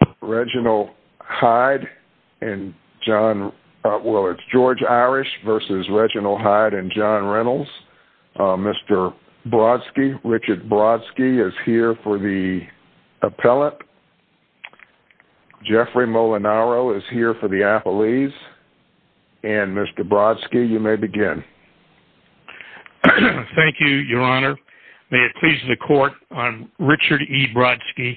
v. Reginald Hyde and John Reynolds. Mr. Brodsky, Richard Brodsky, is here for the appellate. Jeffrey Molinaro is here for the appellees. And, Mr. Brodsky, you may begin. Thank you, Your Honor. May it please the Court, I'm Richard E. Brodsky.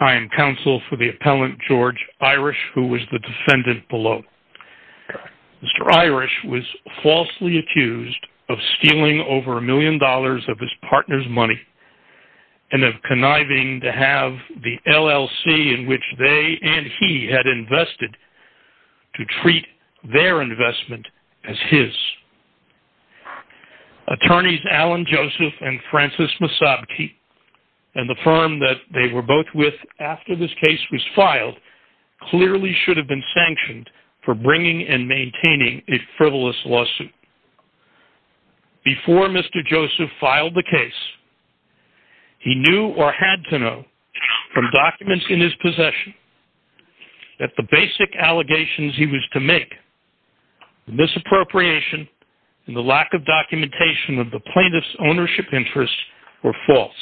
I am counsel for the appellant George Irish, who was the defendant below. Mr. Irish was falsely accused of stealing over a million dollars of his partner's money and of conniving to have the LLC in which they and he had invested to treat their investment as his. Attorneys Alan Joseph and Francis Masabke, and the firm that they were both with after this case was filed, clearly should have been sanctioned for bringing and maintaining a frivolous lawsuit. Before Mr. Joseph filed the case, he knew or had to know from documents in his possession that the basic allegations he was to make, the misappropriation and the lack of documentation of the plaintiff's ownership interests, were false.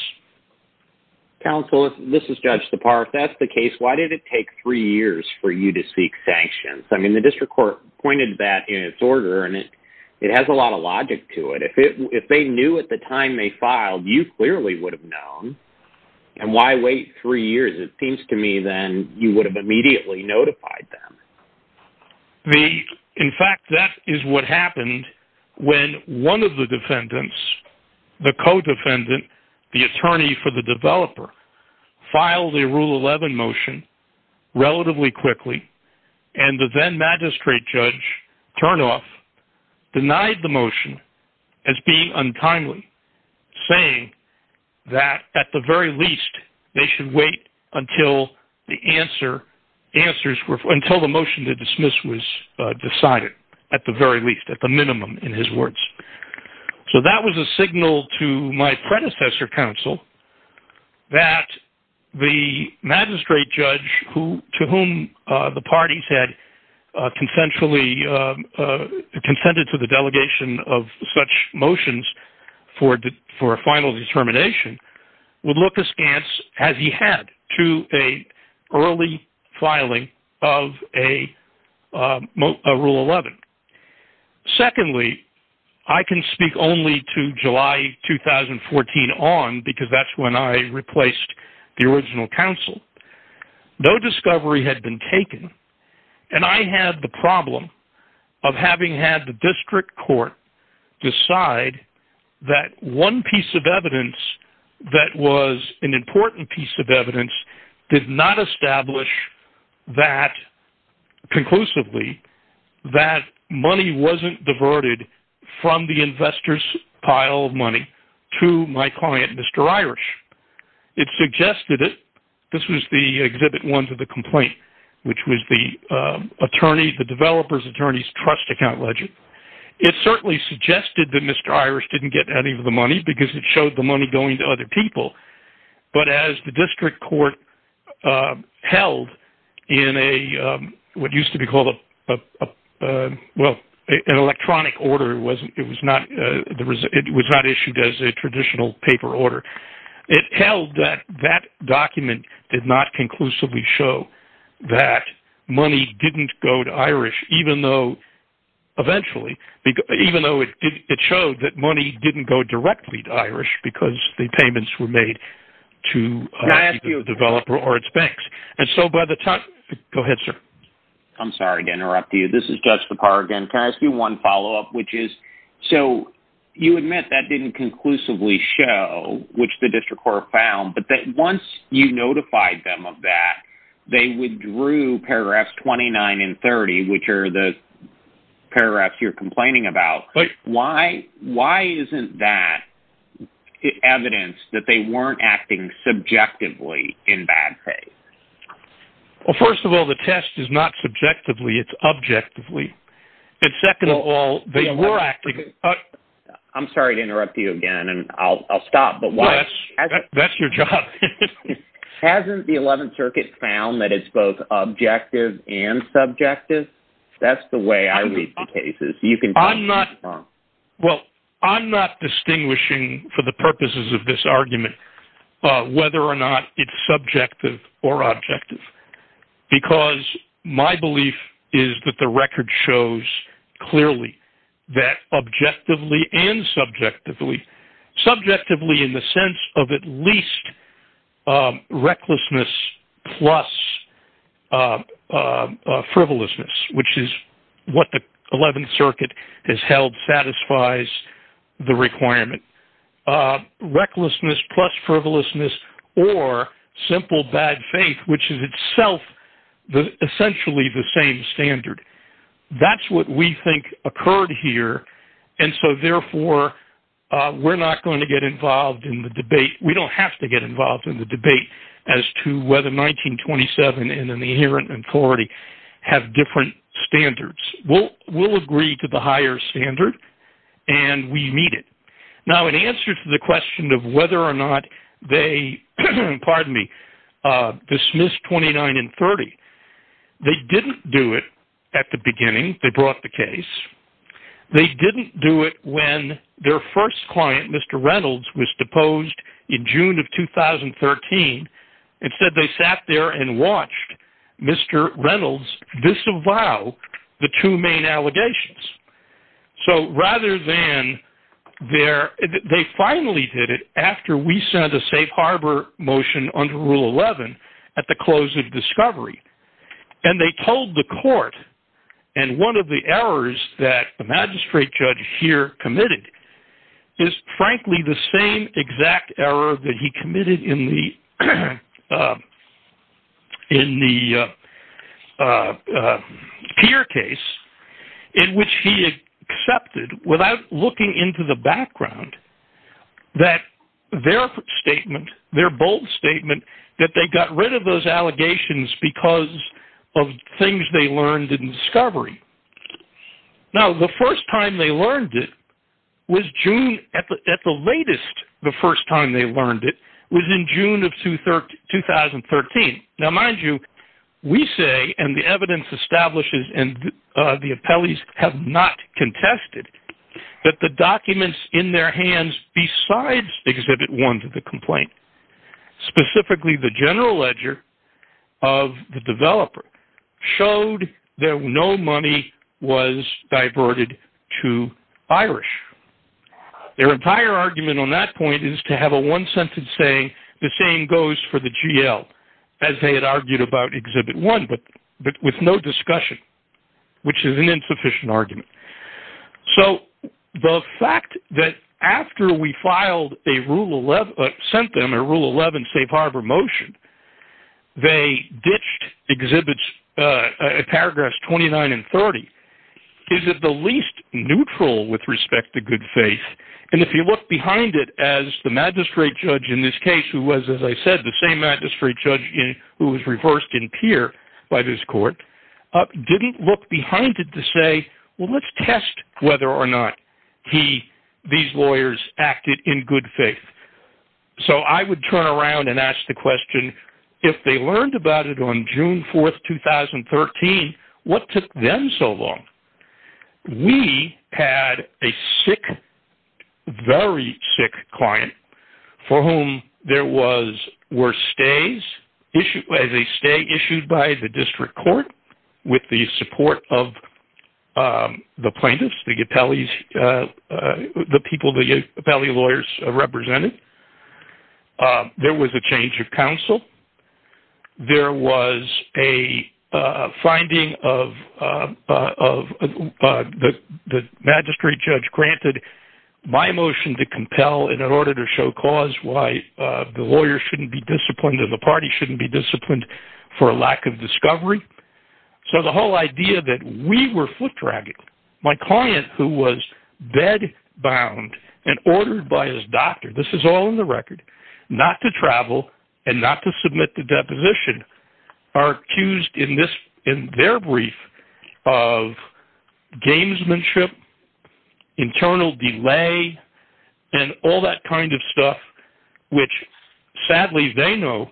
Counsel, if this is Judge Sipar, if that's the case, why did it take three years for you to seek sanctions? I mean, the district court pointed that in its order, and it has a lot of logic to it. If they knew at the time they filed, you clearly would have known. And why wait three years? It seems to me, then, you would have immediately notified them. In fact, that is what happened when one of the defendants, the co-defendant, the attorney for the developer, filed the Rule 11 motion relatively quickly. And the then magistrate judge, Turnoff, denied the motion as being untimely, saying that, at the very least, they should wait until the motion to dismiss was decided. At the very least, at the minimum, in his words. So that was a signal to my predecessor, Counsel, that the magistrate judge, to whom the parties had consented to the delegation of such motions for a final determination, would look askance, as he had, to an early filing of a Rule 11. Secondly, I can speak only to July 2014 on, because that's when I replaced the original counsel. No discovery had been taken, and I had the problem of having had the district court decide that one piece of evidence that was an important piece of evidence did not establish that, conclusively, that money wasn't diverted from the investor's pile of money to my client, Mr. Irish. It suggested it. This was the Exhibit 1 to the complaint, which was the developer's attorney's trust account ledger. It certainly suggested that Mr. Irish didn't get any of the money, because it showed the money going to other people. But as the district court held in what used to be called an electronic order, it was not issued as a traditional paper order. It held that that document did not conclusively show that money didn't go to Irish, even though it showed that money didn't go directly to Irish, because the payments were made to either the developer or its banks. Go ahead, sir. I'm sorry to interrupt you. This is Judge Lepar again. Can I ask you one follow-up? You admit that didn't conclusively show, which the district court found, but once you notified them of that, they withdrew paragraphs 29 and 30, which are the paragraphs you're complaining about. Why isn't that evidence that they weren't acting subjectively in bad faith? Well, first of all, the test is not subjectively. It's objectively. I'm sorry to interrupt you again, and I'll stop. That's your job. Hasn't the Eleventh Circuit found that it's both objective and subjective? That's the way I read the cases. Well, I'm not distinguishing for the purposes of this argument whether or not it's subjective or objective, because my belief is that the record shows clearly that objectively and subjectively, subjectively in the sense of at least recklessness plus frivolousness, which is what the Eleventh Circuit has held satisfies the requirement, recklessness plus frivolousness or simple bad faith, which is itself essentially the same standard. That's what we think occurred here, and so therefore we're not going to get involved in the debate. We don't have to get involved in the debate as to whether 1927 and an inherent authority have different standards. We'll agree to the higher standard, and we need it. Now, in answer to the question of whether or not they dismissed 29 and 30, they didn't do it at the beginning. They brought the case. They didn't do it when their first client, Mr. Reynolds, was deposed in June of 2013. Instead, they sat there and watched Mr. Reynolds disavow the two main allegations. So rather than their—they finally did it after we sent a safe harbor motion under Rule 11 at the close of discovery, and they told the court, and one of the errors that the magistrate judge here committed is frankly the same exact error that he committed in the Peer case, in which he accepted, without looking into the background, that their statement, their bold statement, that they got rid of those allegations because of things they learned in discovery. Now, the first time they learned it was June—at the latest, the first time they learned it was in June of 2013. Now, mind you, we say, and the evidence establishes, and the appellees have not contested, that the documents in their hands besides Exhibit 1 to the complaint, specifically the general ledger of the developer, showed that no money was diverted to Irish. Their entire argument on that point is to have a one-sentence saying, the same goes for the GL, as they had argued about Exhibit 1, but with no discussion, which is an insufficient argument. So, the fact that after we sent them a Rule 11 safe harbor motion, they ditched Exhibits, paragraphs 29 and 30, gives it the least neutral, with respect to good faith, and if you look behind it, as the magistrate judge in this case, who was, as I said, the same magistrate judge who was reversed in Peer by this court, didn't look behind it to say, well, let's test whether or not these lawyers acted in good faith. So, I would turn around and ask the question, if they learned about it on June 4, 2013, what took them so long? We had a sick, very sick client, for whom there were stays, as a stay issued by the district court, with the support of the plaintiffs, the people the appellee lawyers represented. There was a change of counsel. There was a finding of the magistrate judge granted my motion to compel in order to show cause why the lawyer shouldn't be disciplined and the party shouldn't be disciplined for a lack of discovery. So, the whole idea that we were foot-dragged, my client, who was bed-bound and ordered by his doctor, this is all in the record, not to travel and not to submit the deposition, are accused in their brief of gamesmanship, internal delay, and all that kind of stuff, which, sadly, they know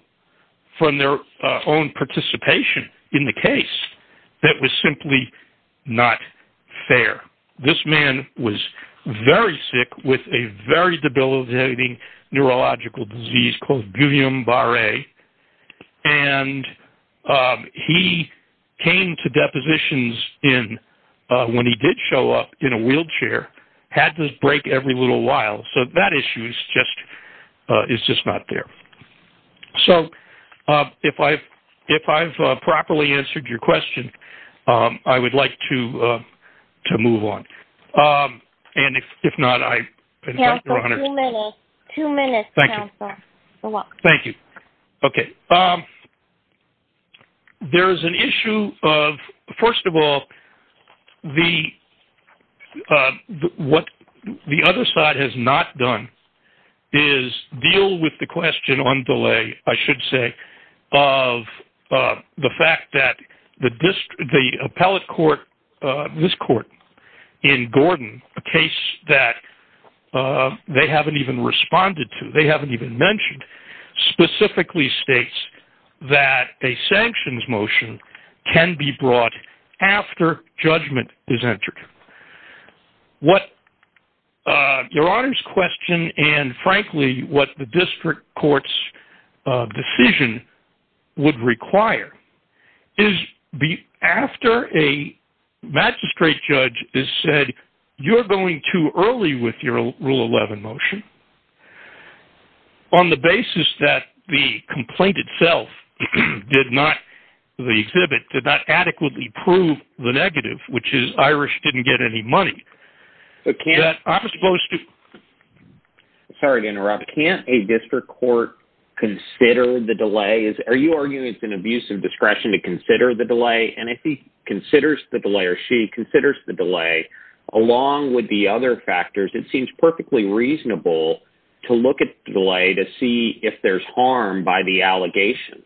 from their own participation in the case, that was simply not fair. This man was very sick with a very debilitating neurological disease called Guillain-Barre, and he came to depositions when he did show up in a wheelchair, had this break every little while. So, that issue is just not there. So, if I've properly answered your question, I would like to move on. And if not, I thank you. Two minutes, counsel. Thank you. You're welcome. Thank you. Okay. There is an issue of, first of all, what the other side has not done is deal with the question on delay, I should say, of the fact that the appellate court, this court, in Gordon, a case that they haven't even responded to, they haven't even mentioned, specifically states that a sanctions motion can be brought after judgment is entered. What Your Honor's question, and frankly, what the district court's decision would require, is after a magistrate judge has said, you're going too early with your Rule 11 motion, on the basis that the complaint itself did not, the exhibit did not adequately prove the negative, which is Irish didn't get any money. I'm supposed to. Sorry to interrupt. Can't a district court consider the delay? Are you arguing it's an abuse of discretion to consider the delay? And if he considers the delay, or she considers the delay, along with the other factors, it seems perfectly reasonable to look at the delay to see if there's harm by the allegations.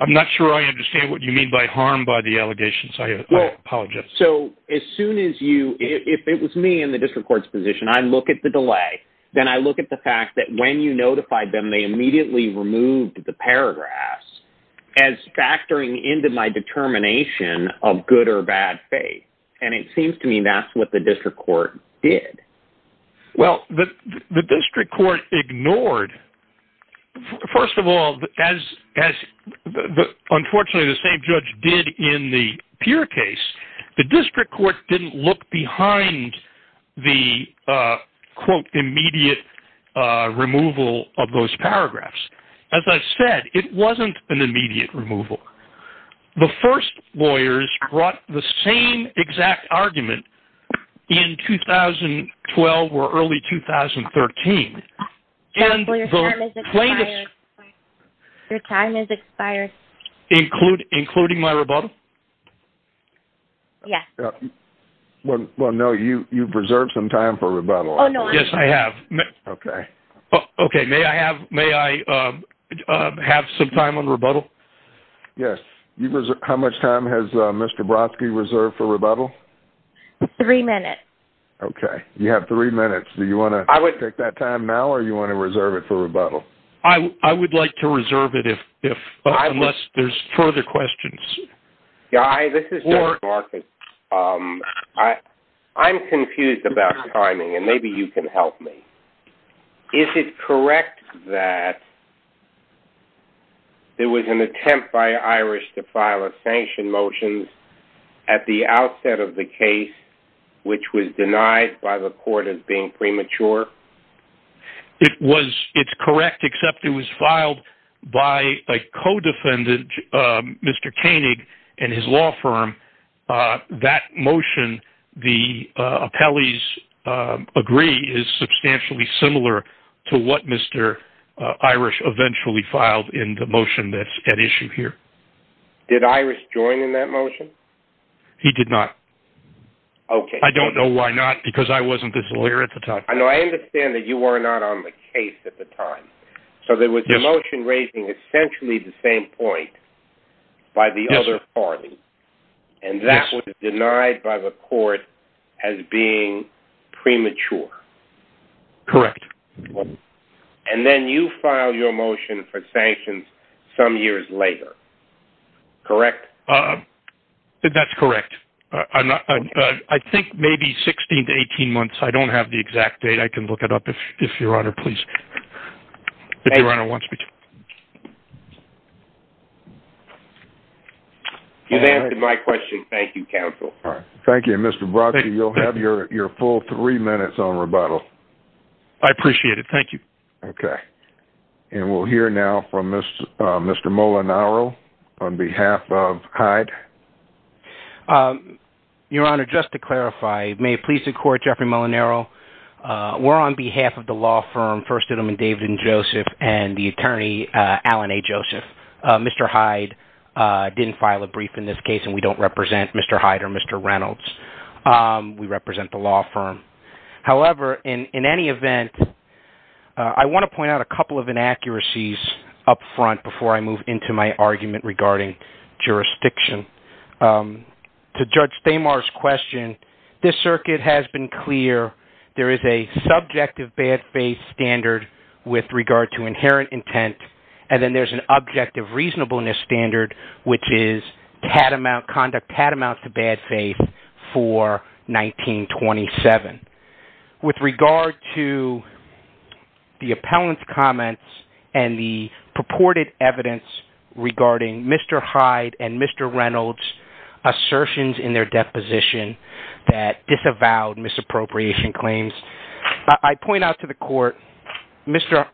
I'm not sure I understand what you mean by harm by the allegations. I apologize. So as soon as you, if it was me in the district court's position, I look at the delay, then I look at the fact that when you notified them, they immediately removed the paragraphs as factoring into my determination of good or bad faith. And it seems to me that's what the district court did. Well, the district court ignored, first of all, as unfortunately the same judge did in the Peer case, the district court didn't look behind the, quote, immediate removal of those paragraphs. As I said, it wasn't an immediate removal. The first lawyers brought the same exact argument in 2012 or early 2013. Your time has expired. Including my rebuttal? Yes. Well, no, you've reserved some time for rebuttal. Yes, I have. Okay. Okay. May I have some time on rebuttal? Yes. How much time has Mr. Brodsky reserved for rebuttal? Three minutes. Okay. You have three minutes. Do you want to take that time now or do you want to reserve it for rebuttal? I would like to reserve it unless there's further questions. Guy, this is Doug Marcus. I'm confused about timing, and maybe you can help me. Is it correct that there was an attempt by Iris to file a sanction motion at the outset of the case, which was denied by the court as being premature? It's correct, except it was filed by a co-defendant, Mr. Koenig, and his law firm. That motion, the appellee's agree, is substantially similar to what Mr. Iris eventually filed in the motion that's at issue here. Did Iris join in that motion? He did not. Okay. I don't know why not, because I wasn't his lawyer at the time. No, I understand that you were not on the case at the time, so there was a motion raising essentially the same point by the other party, and that was denied by the court as being premature. Correct. And then you filed your motion for sanctions some years later, correct? That's correct. I think maybe 16 to 18 months. I don't have the exact date. I can look it up if Your Honor wants me to. You've answered my question. Thank you, counsel. Thank you. And, Mr. Brodsky, you'll have your full three minutes on rebuttal. I appreciate it. Thank you. Okay. And we'll hear now from Mr. Molinaro on behalf of Hyde. Your Honor, just to clarify, may it please the Court, Jeffrey Molinaro, we're on behalf of the law firm First Edelman David and Joseph and the attorney Alan A. Joseph. Mr. Hyde didn't file a brief in this case, and we don't represent Mr. Hyde or Mr. Reynolds. We represent the law firm. However, in any event, I want to point out a couple of inaccuracies up front before I move into my argument regarding jurisdiction. To Judge Thamar's question, this circuit has been clear. There is a subjective bad faith standard with regard to inherent intent, and then there's an objective reasonableness standard, which is conduct patamount to bad faith for 1927. With regard to the appellant's comments and the purported evidence regarding Mr. Hyde and Mr. Reynolds' assertions in their deposition that disavowed misappropriation claims, I point out to the Court, Mr.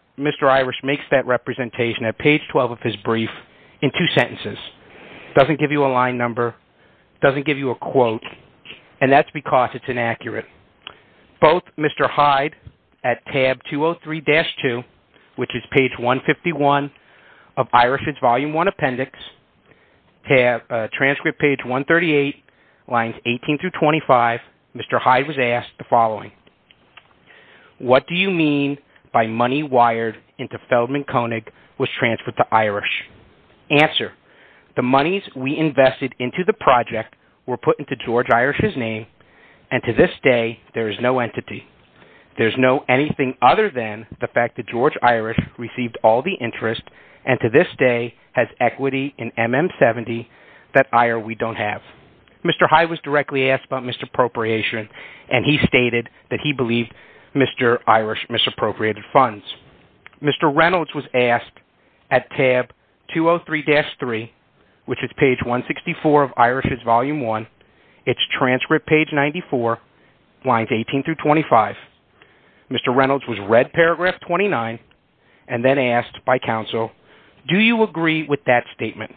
Irish makes that representation at page 12 of his brief in two sentences. Doesn't give you a line number, doesn't give you a quote, and that's because it's inaccurate. Both Mr. Hyde at tab 203-2, which is page 151 of Irish's volume 1 appendix, transcript page 138, lines 18 through 25, Mr. Hyde was asked the following, What do you mean by money wired into Feldman Koenig was transferred to Irish? Answer, the monies we invested into the project were put into George Irish's name, and to this day, there is no entity. There is no anything other than the fact that George Irish received all the interest, and to this day, has equity in MM70 that we don't have. Mr. Hyde was directly asked about misappropriation, and he stated that he believed Mr. Irish misappropriated funds. Mr. Reynolds was asked at tab 203-3, which is page 164 of Irish's volume 1, it's transcript page 94, lines 18 through 25, Mr. Reynolds was read paragraph 29, and then asked by counsel, Do you agree with that statement?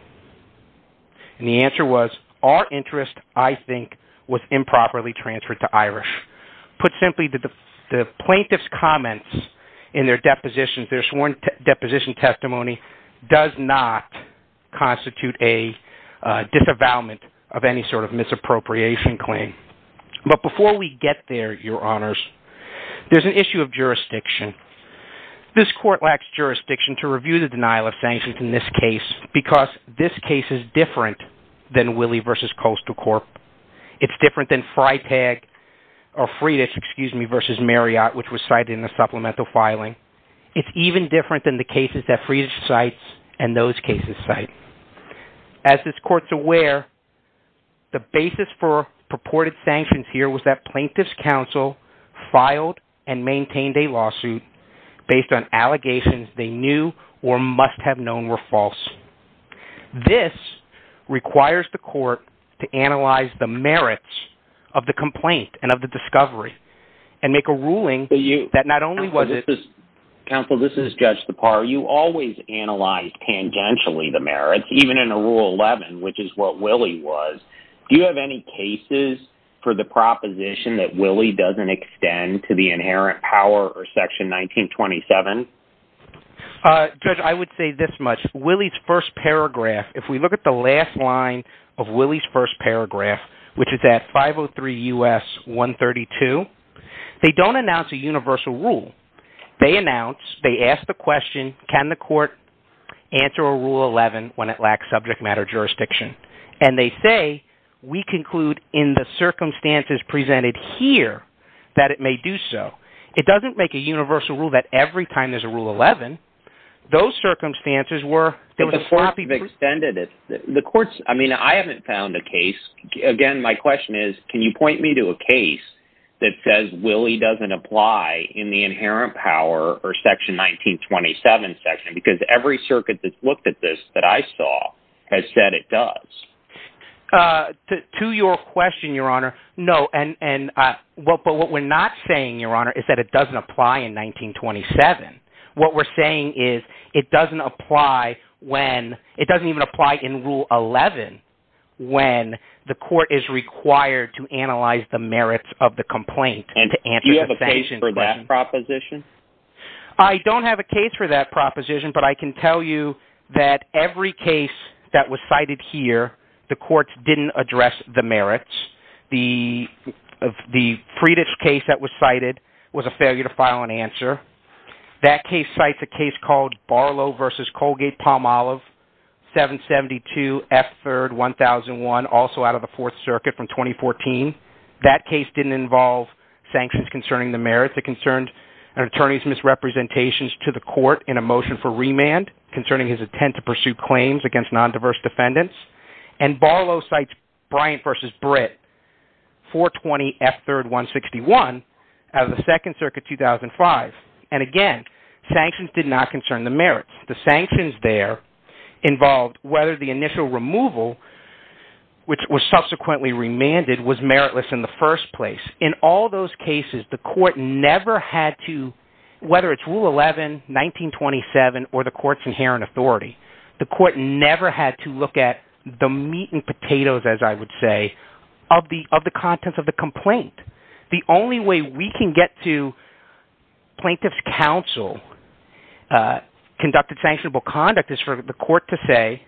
And the answer was, our interest, I think, was improperly transferred to Irish. Put simply, the plaintiff's comments in their depositions, their sworn deposition testimony, does not constitute a disavowalment of any sort of misappropriation claim. But before we get there, your honors, there's an issue of jurisdiction. This court lacks jurisdiction to review the denial of sanctions in this case, because this case is different than Willey v. Coastal Corp. It's different than Freitag, or Freitas, excuse me, v. Marriott, which was cited in the supplemental filing. It's even different than the cases that Freitas cites and those cases cite. As this court's aware, the basis for purported sanctions here was that plaintiff's counsel filed and maintained a lawsuit based on allegations they knew or must have known were false. This requires the court to analyze the merits of the complaint and of the discovery and make a ruling that not only was it… It's even in Rule 11, which is what Willey was. Do you have any cases for the proposition that Willey doesn't extend to the inherent power or Section 1927? Judge, I would say this much. Willey's first paragraph, if we look at the last line of Willey's first paragraph, which is at 503 U.S. 132, they don't announce a universal rule. They announce, they ask the question, can the court answer a Rule 11 when it lacks subject matter jurisdiction? And they say, we conclude in the circumstances presented here that it may do so. It doesn't make a universal rule that every time there's a Rule 11, those circumstances were… I mean, I haven't found a case. Again, my question is, can you point me to a case that says Willey doesn't apply in the inherent power or Section 1927 section? Because every circuit that's looked at this that I saw has said it does. To your question, Your Honor, no. But what we're not saying, Your Honor, is that it doesn't apply in 1927. What we're saying is it doesn't apply when – it doesn't even apply in Rule 11 when the court is required to analyze the merits of the complaint. Do you have a case for that proposition? I don't have a case for that proposition, but I can tell you that every case that was cited here, the courts didn't address the merits. The Friedich case that was cited was a failure to file an answer. That case cites a case called Barlow v. Colgate-Palmolive, 772 F. 3rd, 1001, also out of the Fourth Circuit from 2014. That case didn't involve sanctions concerning the merits. It concerned an attorney's misrepresentations to the court in a motion for remand concerning his intent to pursue claims against nondiverse defendants. And Barlow cites Bryant v. Britt, 420 F. 3rd, 161, out of the Second Circuit, 2005. And again, sanctions did not concern the merits. The sanctions there involved whether the initial removal, which was subsequently remanded, was meritless in the first place. In all those cases, the court never had to – whether it's Rule 11, 1927, or the court's inherent authority – the court never had to look at the meat and potatoes, as I would say, of the contents of the complaint. The only way we can get to plaintiff's counsel conducted sanctionable conduct is for the court to say,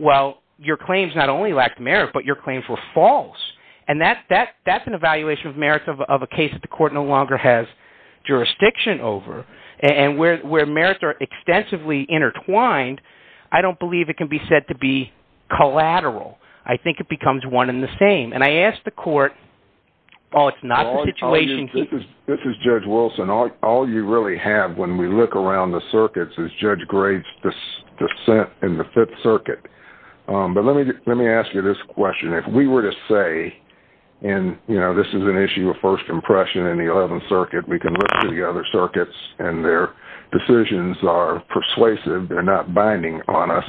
well, your claims not only lacked merit, but your claims were false. And that's an evaluation of merits of a case that the court no longer has jurisdiction over. And where merits are extensively intertwined, I don't believe it can be said to be collateral. I think it becomes one and the same. And I ask the court, well, it's not the situation – This is Judge Wilson. All you really have when we look around the circuits is Judge Graves' dissent in the Fifth Circuit. But let me ask you this question. If we were to say – and this is an issue of first impression in the Eleventh Circuit. We can look at the other circuits, and their decisions are persuasive. They're not binding on us.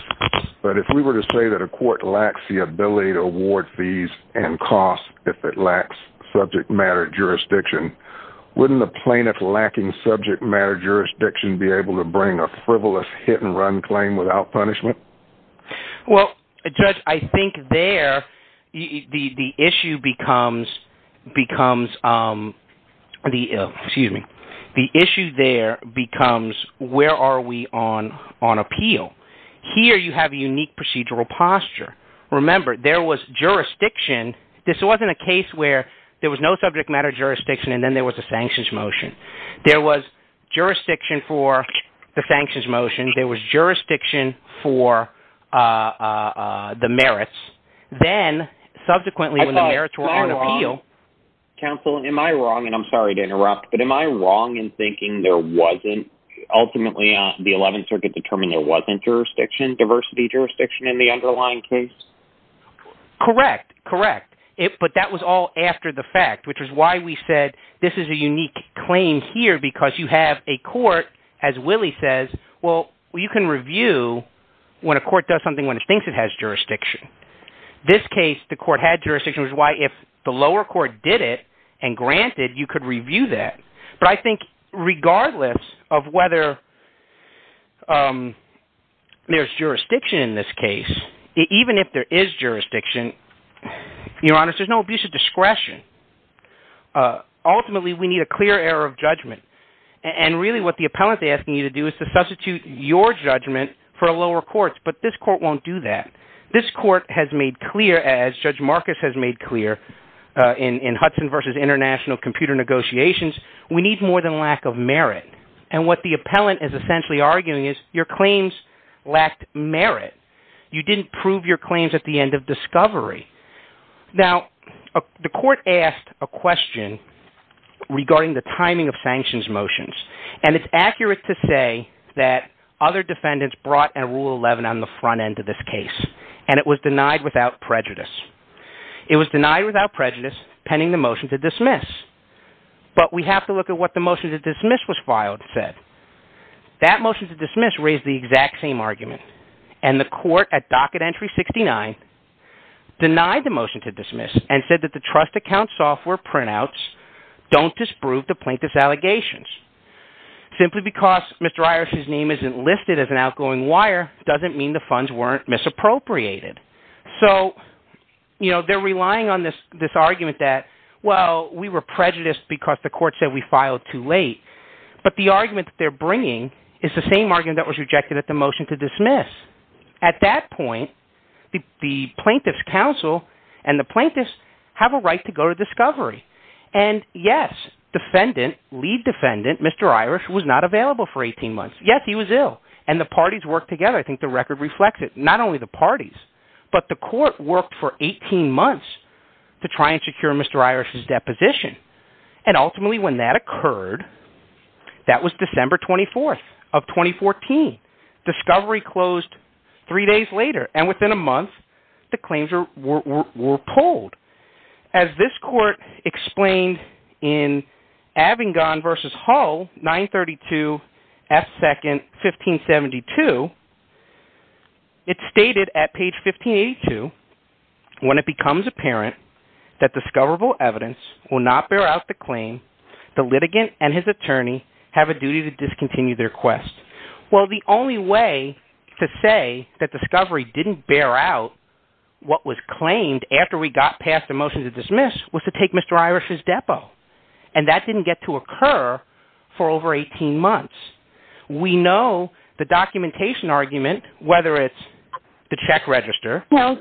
But if we were to say that a court lacks the ability to award fees and costs if it lacks subject matter jurisdiction, wouldn't a plaintiff lacking subject matter jurisdiction be able to bring a frivolous hit-and-run claim without punishment? Well, Judge, I think there the issue becomes where are we on appeal? Here you have a unique procedural posture. Remember, there was jurisdiction. This wasn't a case where there was no subject matter jurisdiction and then there was a sanctions motion. There was jurisdiction for the sanctions motion. There was jurisdiction for the merits. Then, subsequently, when the merits were on appeal – Counsel, am I wrong, and I'm sorry to interrupt, but am I wrong in thinking there wasn't – ultimately, the Eleventh Circuit determined there wasn't diversity jurisdiction in the underlying case? Correct, correct. But that was all after the fact, which is why we said this is a unique claim here because you have a court, as Willie says, well, you can review when a court does something when it thinks it has jurisdiction. This case, the court had jurisdiction, which is why if the lower court did it and granted, you could review that. But I think regardless of whether there's jurisdiction in this case, even if there is jurisdiction, Your Honor, there's no abuse of discretion. Ultimately, we need a clear error of judgment. And really what the appellant is asking you to do is to substitute your judgment for a lower court's, but this court won't do that. This court has made clear, as Judge Marcus has made clear in Hudson v. International Computer Negotiations, we need more than lack of merit. And what the appellant is essentially arguing is your claims lacked merit. You didn't prove your claims at the end of discovery. Now, the court asked a question regarding the timing of sanctions motions. And it's accurate to say that other defendants brought in Rule 11 on the front end of this case. And it was denied without prejudice. It was denied without prejudice pending the motion to dismiss. But we have to look at what the motion to dismiss was filed said. That motion to dismiss raised the exact same argument. And the court at docket entry 69 denied the motion to dismiss and said that the trust account software printouts don't disprove the plaintiff's allegations. Simply because Mr. Iris' name isn't listed as an outgoing wire doesn't mean the funds weren't misappropriated. So they're relying on this argument that, well, we were prejudiced because the court said we filed too late. But the argument that they're bringing is the same argument that was rejected at the motion to dismiss. At that point, the plaintiff's counsel and the plaintiff's have a right to go to discovery. And, yes, defendant, lead defendant, Mr. Iris, was not available for 18 months. Yes, he was ill. And the parties worked together. I think the record reflects it. Not only the parties, but the court worked for 18 months to try and secure Mr. Iris' deposition. And ultimately when that occurred, that was December 24th of 2014. Discovery closed three days later. And within a month, the claims were pulled. As this court explained in Abingdon v. Hull, 932 F. 2nd, 1572, it's stated at page 1582, when it becomes apparent that discoverable evidence will not bear out the claim, the litigant and his attorney have a duty to discontinue their quest. Well, the only way to say that discovery didn't bear out what was claimed after we got past the motion to dismiss was to take Mr. Iris' depo. And that didn't get to occur for over 18 months. We know the documentation argument, whether it's the check register or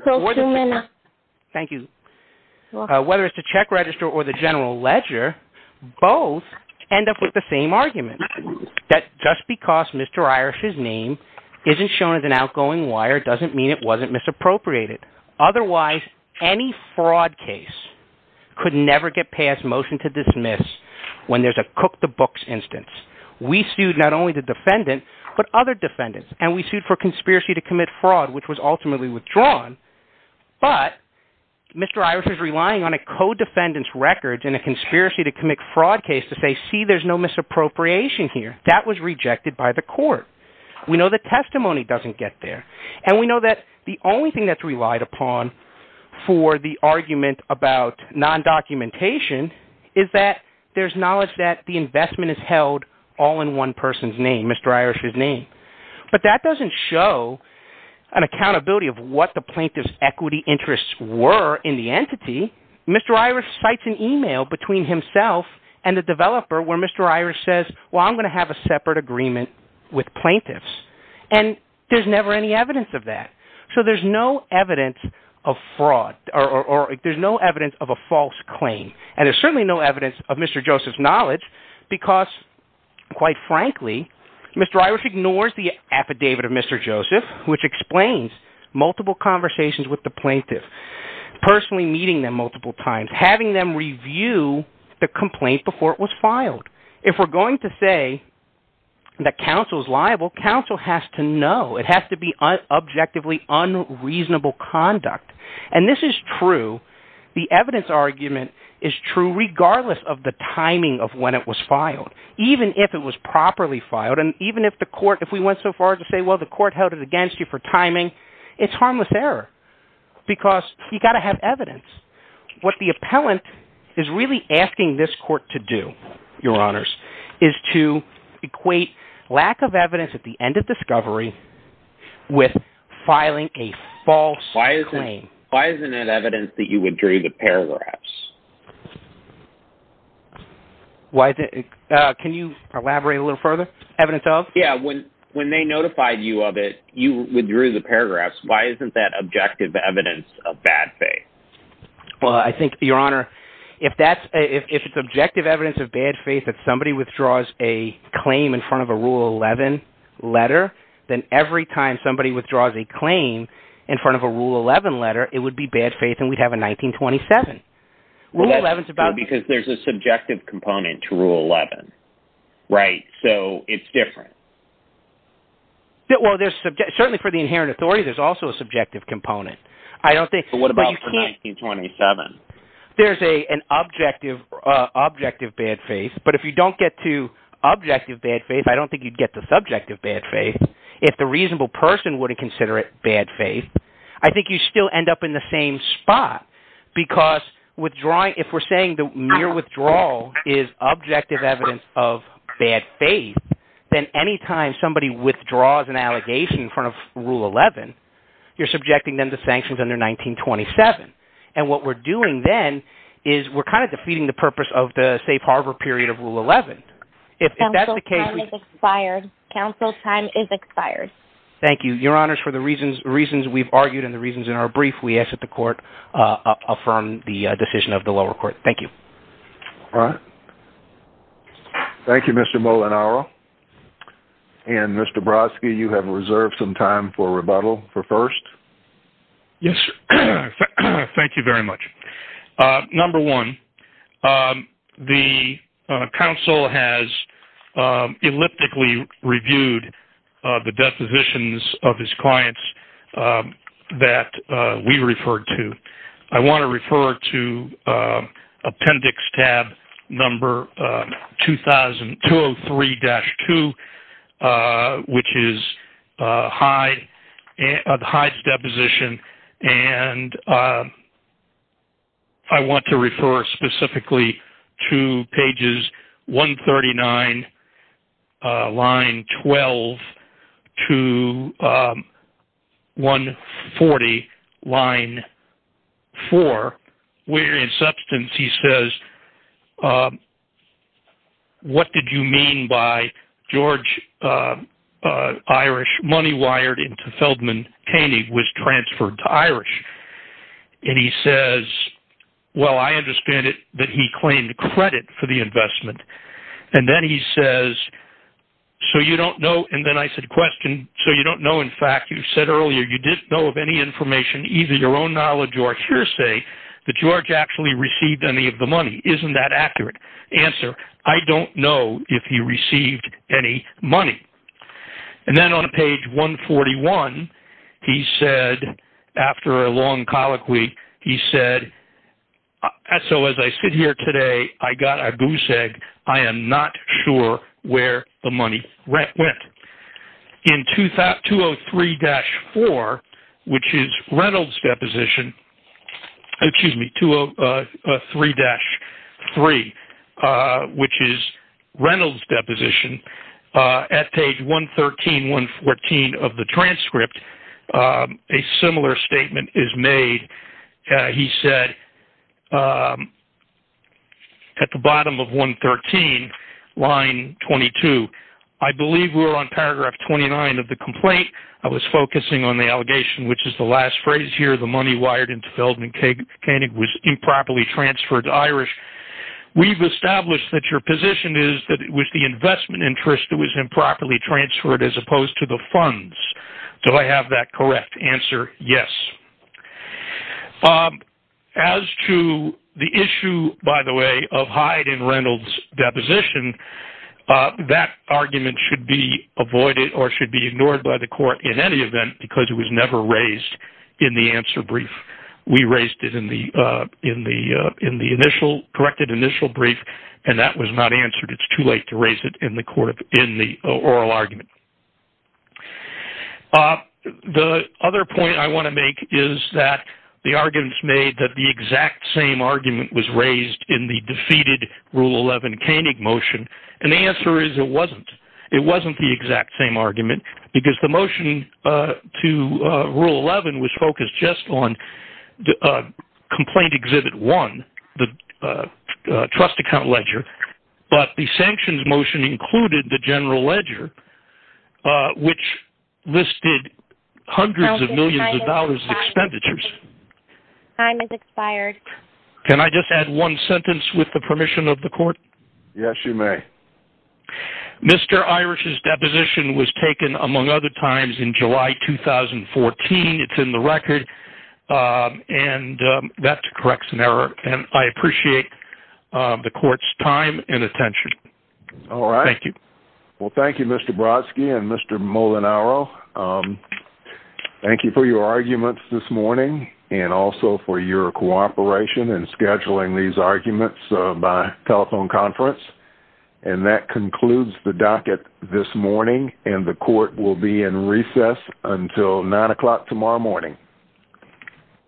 the general ledger, both end up with the same argument. That just because Mr. Iris' name isn't shown as an outgoing wire doesn't mean it wasn't misappropriated. Otherwise, any fraud case could never get past motion to dismiss when there's a cook the books instance. We sued not only the defendant, but other defendants. And we sued for conspiracy to commit fraud, which was ultimately withdrawn. But Mr. Iris is relying on a co-defendant's record in a conspiracy to commit fraud case to say, see, there's no misappropriation here. That was rejected by the court. We know the testimony doesn't get there. And we know that the only thing that's relied upon for the argument about non-documentation is that there's knowledge that the investment is held all in one person's name, Mr. Iris' name. But that doesn't show an accountability of what the plaintiff's equity interests were in the entity. Mr. Iris cites an email between himself and the developer where Mr. Iris says, well, I'm going to have a separate agreement with plaintiffs. And there's never any evidence of that. So there's no evidence of fraud, or there's no evidence of a false claim. And there's certainly no evidence of Mr. Joseph's knowledge, because, quite frankly, Mr. Iris ignores the affidavit of Mr. Joseph, which explains multiple conversations with the plaintiff, personally meeting them multiple times, having them review the complaint before it was filed. If we're going to say that counsel is liable, counsel has to know. It has to be objectively unreasonable conduct. And this is true. The evidence argument is true regardless of the timing of when it was filed, even if it was properly filed. And even if the court, if we went so far as to say, well, the court held it against you for timing, it's harmless error, because you've got to have evidence. What the appellant is really asking this court to do, Your Honors, is to equate lack of evidence at the end of discovery with filing a false claim. Why isn't it evidence that you withdrew the paragraphs? Can you elaborate a little further? Evidence of? Yeah, when they notified you of it, you withdrew the paragraphs. Why isn't that objective evidence of bad faith? Well, I think, Your Honor, if it's objective evidence of bad faith that somebody withdraws a claim in front of a Rule 11 letter, then every time somebody withdraws a claim in front of a Rule 11 letter, it would be bad faith, and we'd have a 1927. Because there's a subjective component to Rule 11, right? So it's different. Well, certainly for the inherent authority, there's also a subjective component. But what about for 1927? There's an objective bad faith, but if you don't get to objective bad faith, if I don't think you'd get to subjective bad faith, if the reasonable person wouldn't consider it bad faith, I think you'd still end up in the same spot, because if we're saying the mere withdrawal is objective evidence of bad faith, then any time somebody withdraws an allegation in front of Rule 11, you're subjecting them to sanctions under 1927. And what we're doing then is we're kind of defeating the purpose of the safe harbor period of Rule 11. Counsel time is expired. Counsel time is expired. Thank you. Your Honors, for the reasons we've argued and the reasons in our brief, we ask that the Court affirm the decision of the lower court. Thank you. All right. Thank you, Mr. Molinaro. And, Mr. Brodsky, you have reserved some time for rebuttal for first. Yes, sir. Thank you very much. Number one, the counsel has elliptically reviewed the depositions of his clients that we referred to. I want to refer to appendix tab number 203-2, which is Hyde's deposition, and I want to refer specifically to pages 139, line 12, to 140, line 4, where in substance he says, what did you mean by George Irish money wired into Feldman Cainey was transferred to Irish? And he says, well, I understand it that he claimed credit for the investment. And then he says, so you don't know. And then I said, question, so you don't know. In fact, you said earlier you didn't know of any information, either your own knowledge or hearsay, that George actually received any of the money. Isn't that accurate? Answer, I don't know if he received any money. And then on page 141, he said, after a long colloquy, he said, so as I sit here today, I got a goose egg. I am not sure where the money went. In 203-3, which is Reynolds' deposition, at page 113, 114 of the transcript, a similar statement is made. He said at the bottom of 113, line 22, I believe we're on paragraph 29 of the complaint. I was focusing on the allegation, which is the last phrase here, the money wired into Feldman Cainey was improperly transferred to Irish. We've established that your position is that it was the investment interest that was improperly transferred as opposed to the funds. Do I have that correct answer? Yes. As to the issue, by the way, of Hyde and Reynolds' deposition, that argument should be avoided or should be ignored by the court in any event because it was never raised in the answer brief. We raised it in the corrected initial brief, and that was not answered. It's too late to raise it in the oral argument. The other point I want to make is that the arguments made that the exact same argument was raised in the defeated Rule 11 Cainey motion, and the answer is it wasn't. It wasn't the exact same argument because the motion to Rule 11 was focused just on Complaint Exhibit 1, the trust account ledger, but the sanctions motion included the general ledger, which listed hundreds of millions of dollars in expenditures. Time has expired. Can I just add one sentence with the permission of the court? Yes, you may. Mr. Irish's deposition was taken, among other times, in July 2014. It's in the record, and that corrects an error. I appreciate the court's time and attention. All right. Thank you. Well, thank you, Mr. Brodsky and Mr. Molinaro. Thank you for your arguments this morning and also for your cooperation in scheduling these arguments by telephone conference. And that concludes the docket this morning, and the court will be in recess until 9 o'clock tomorrow morning.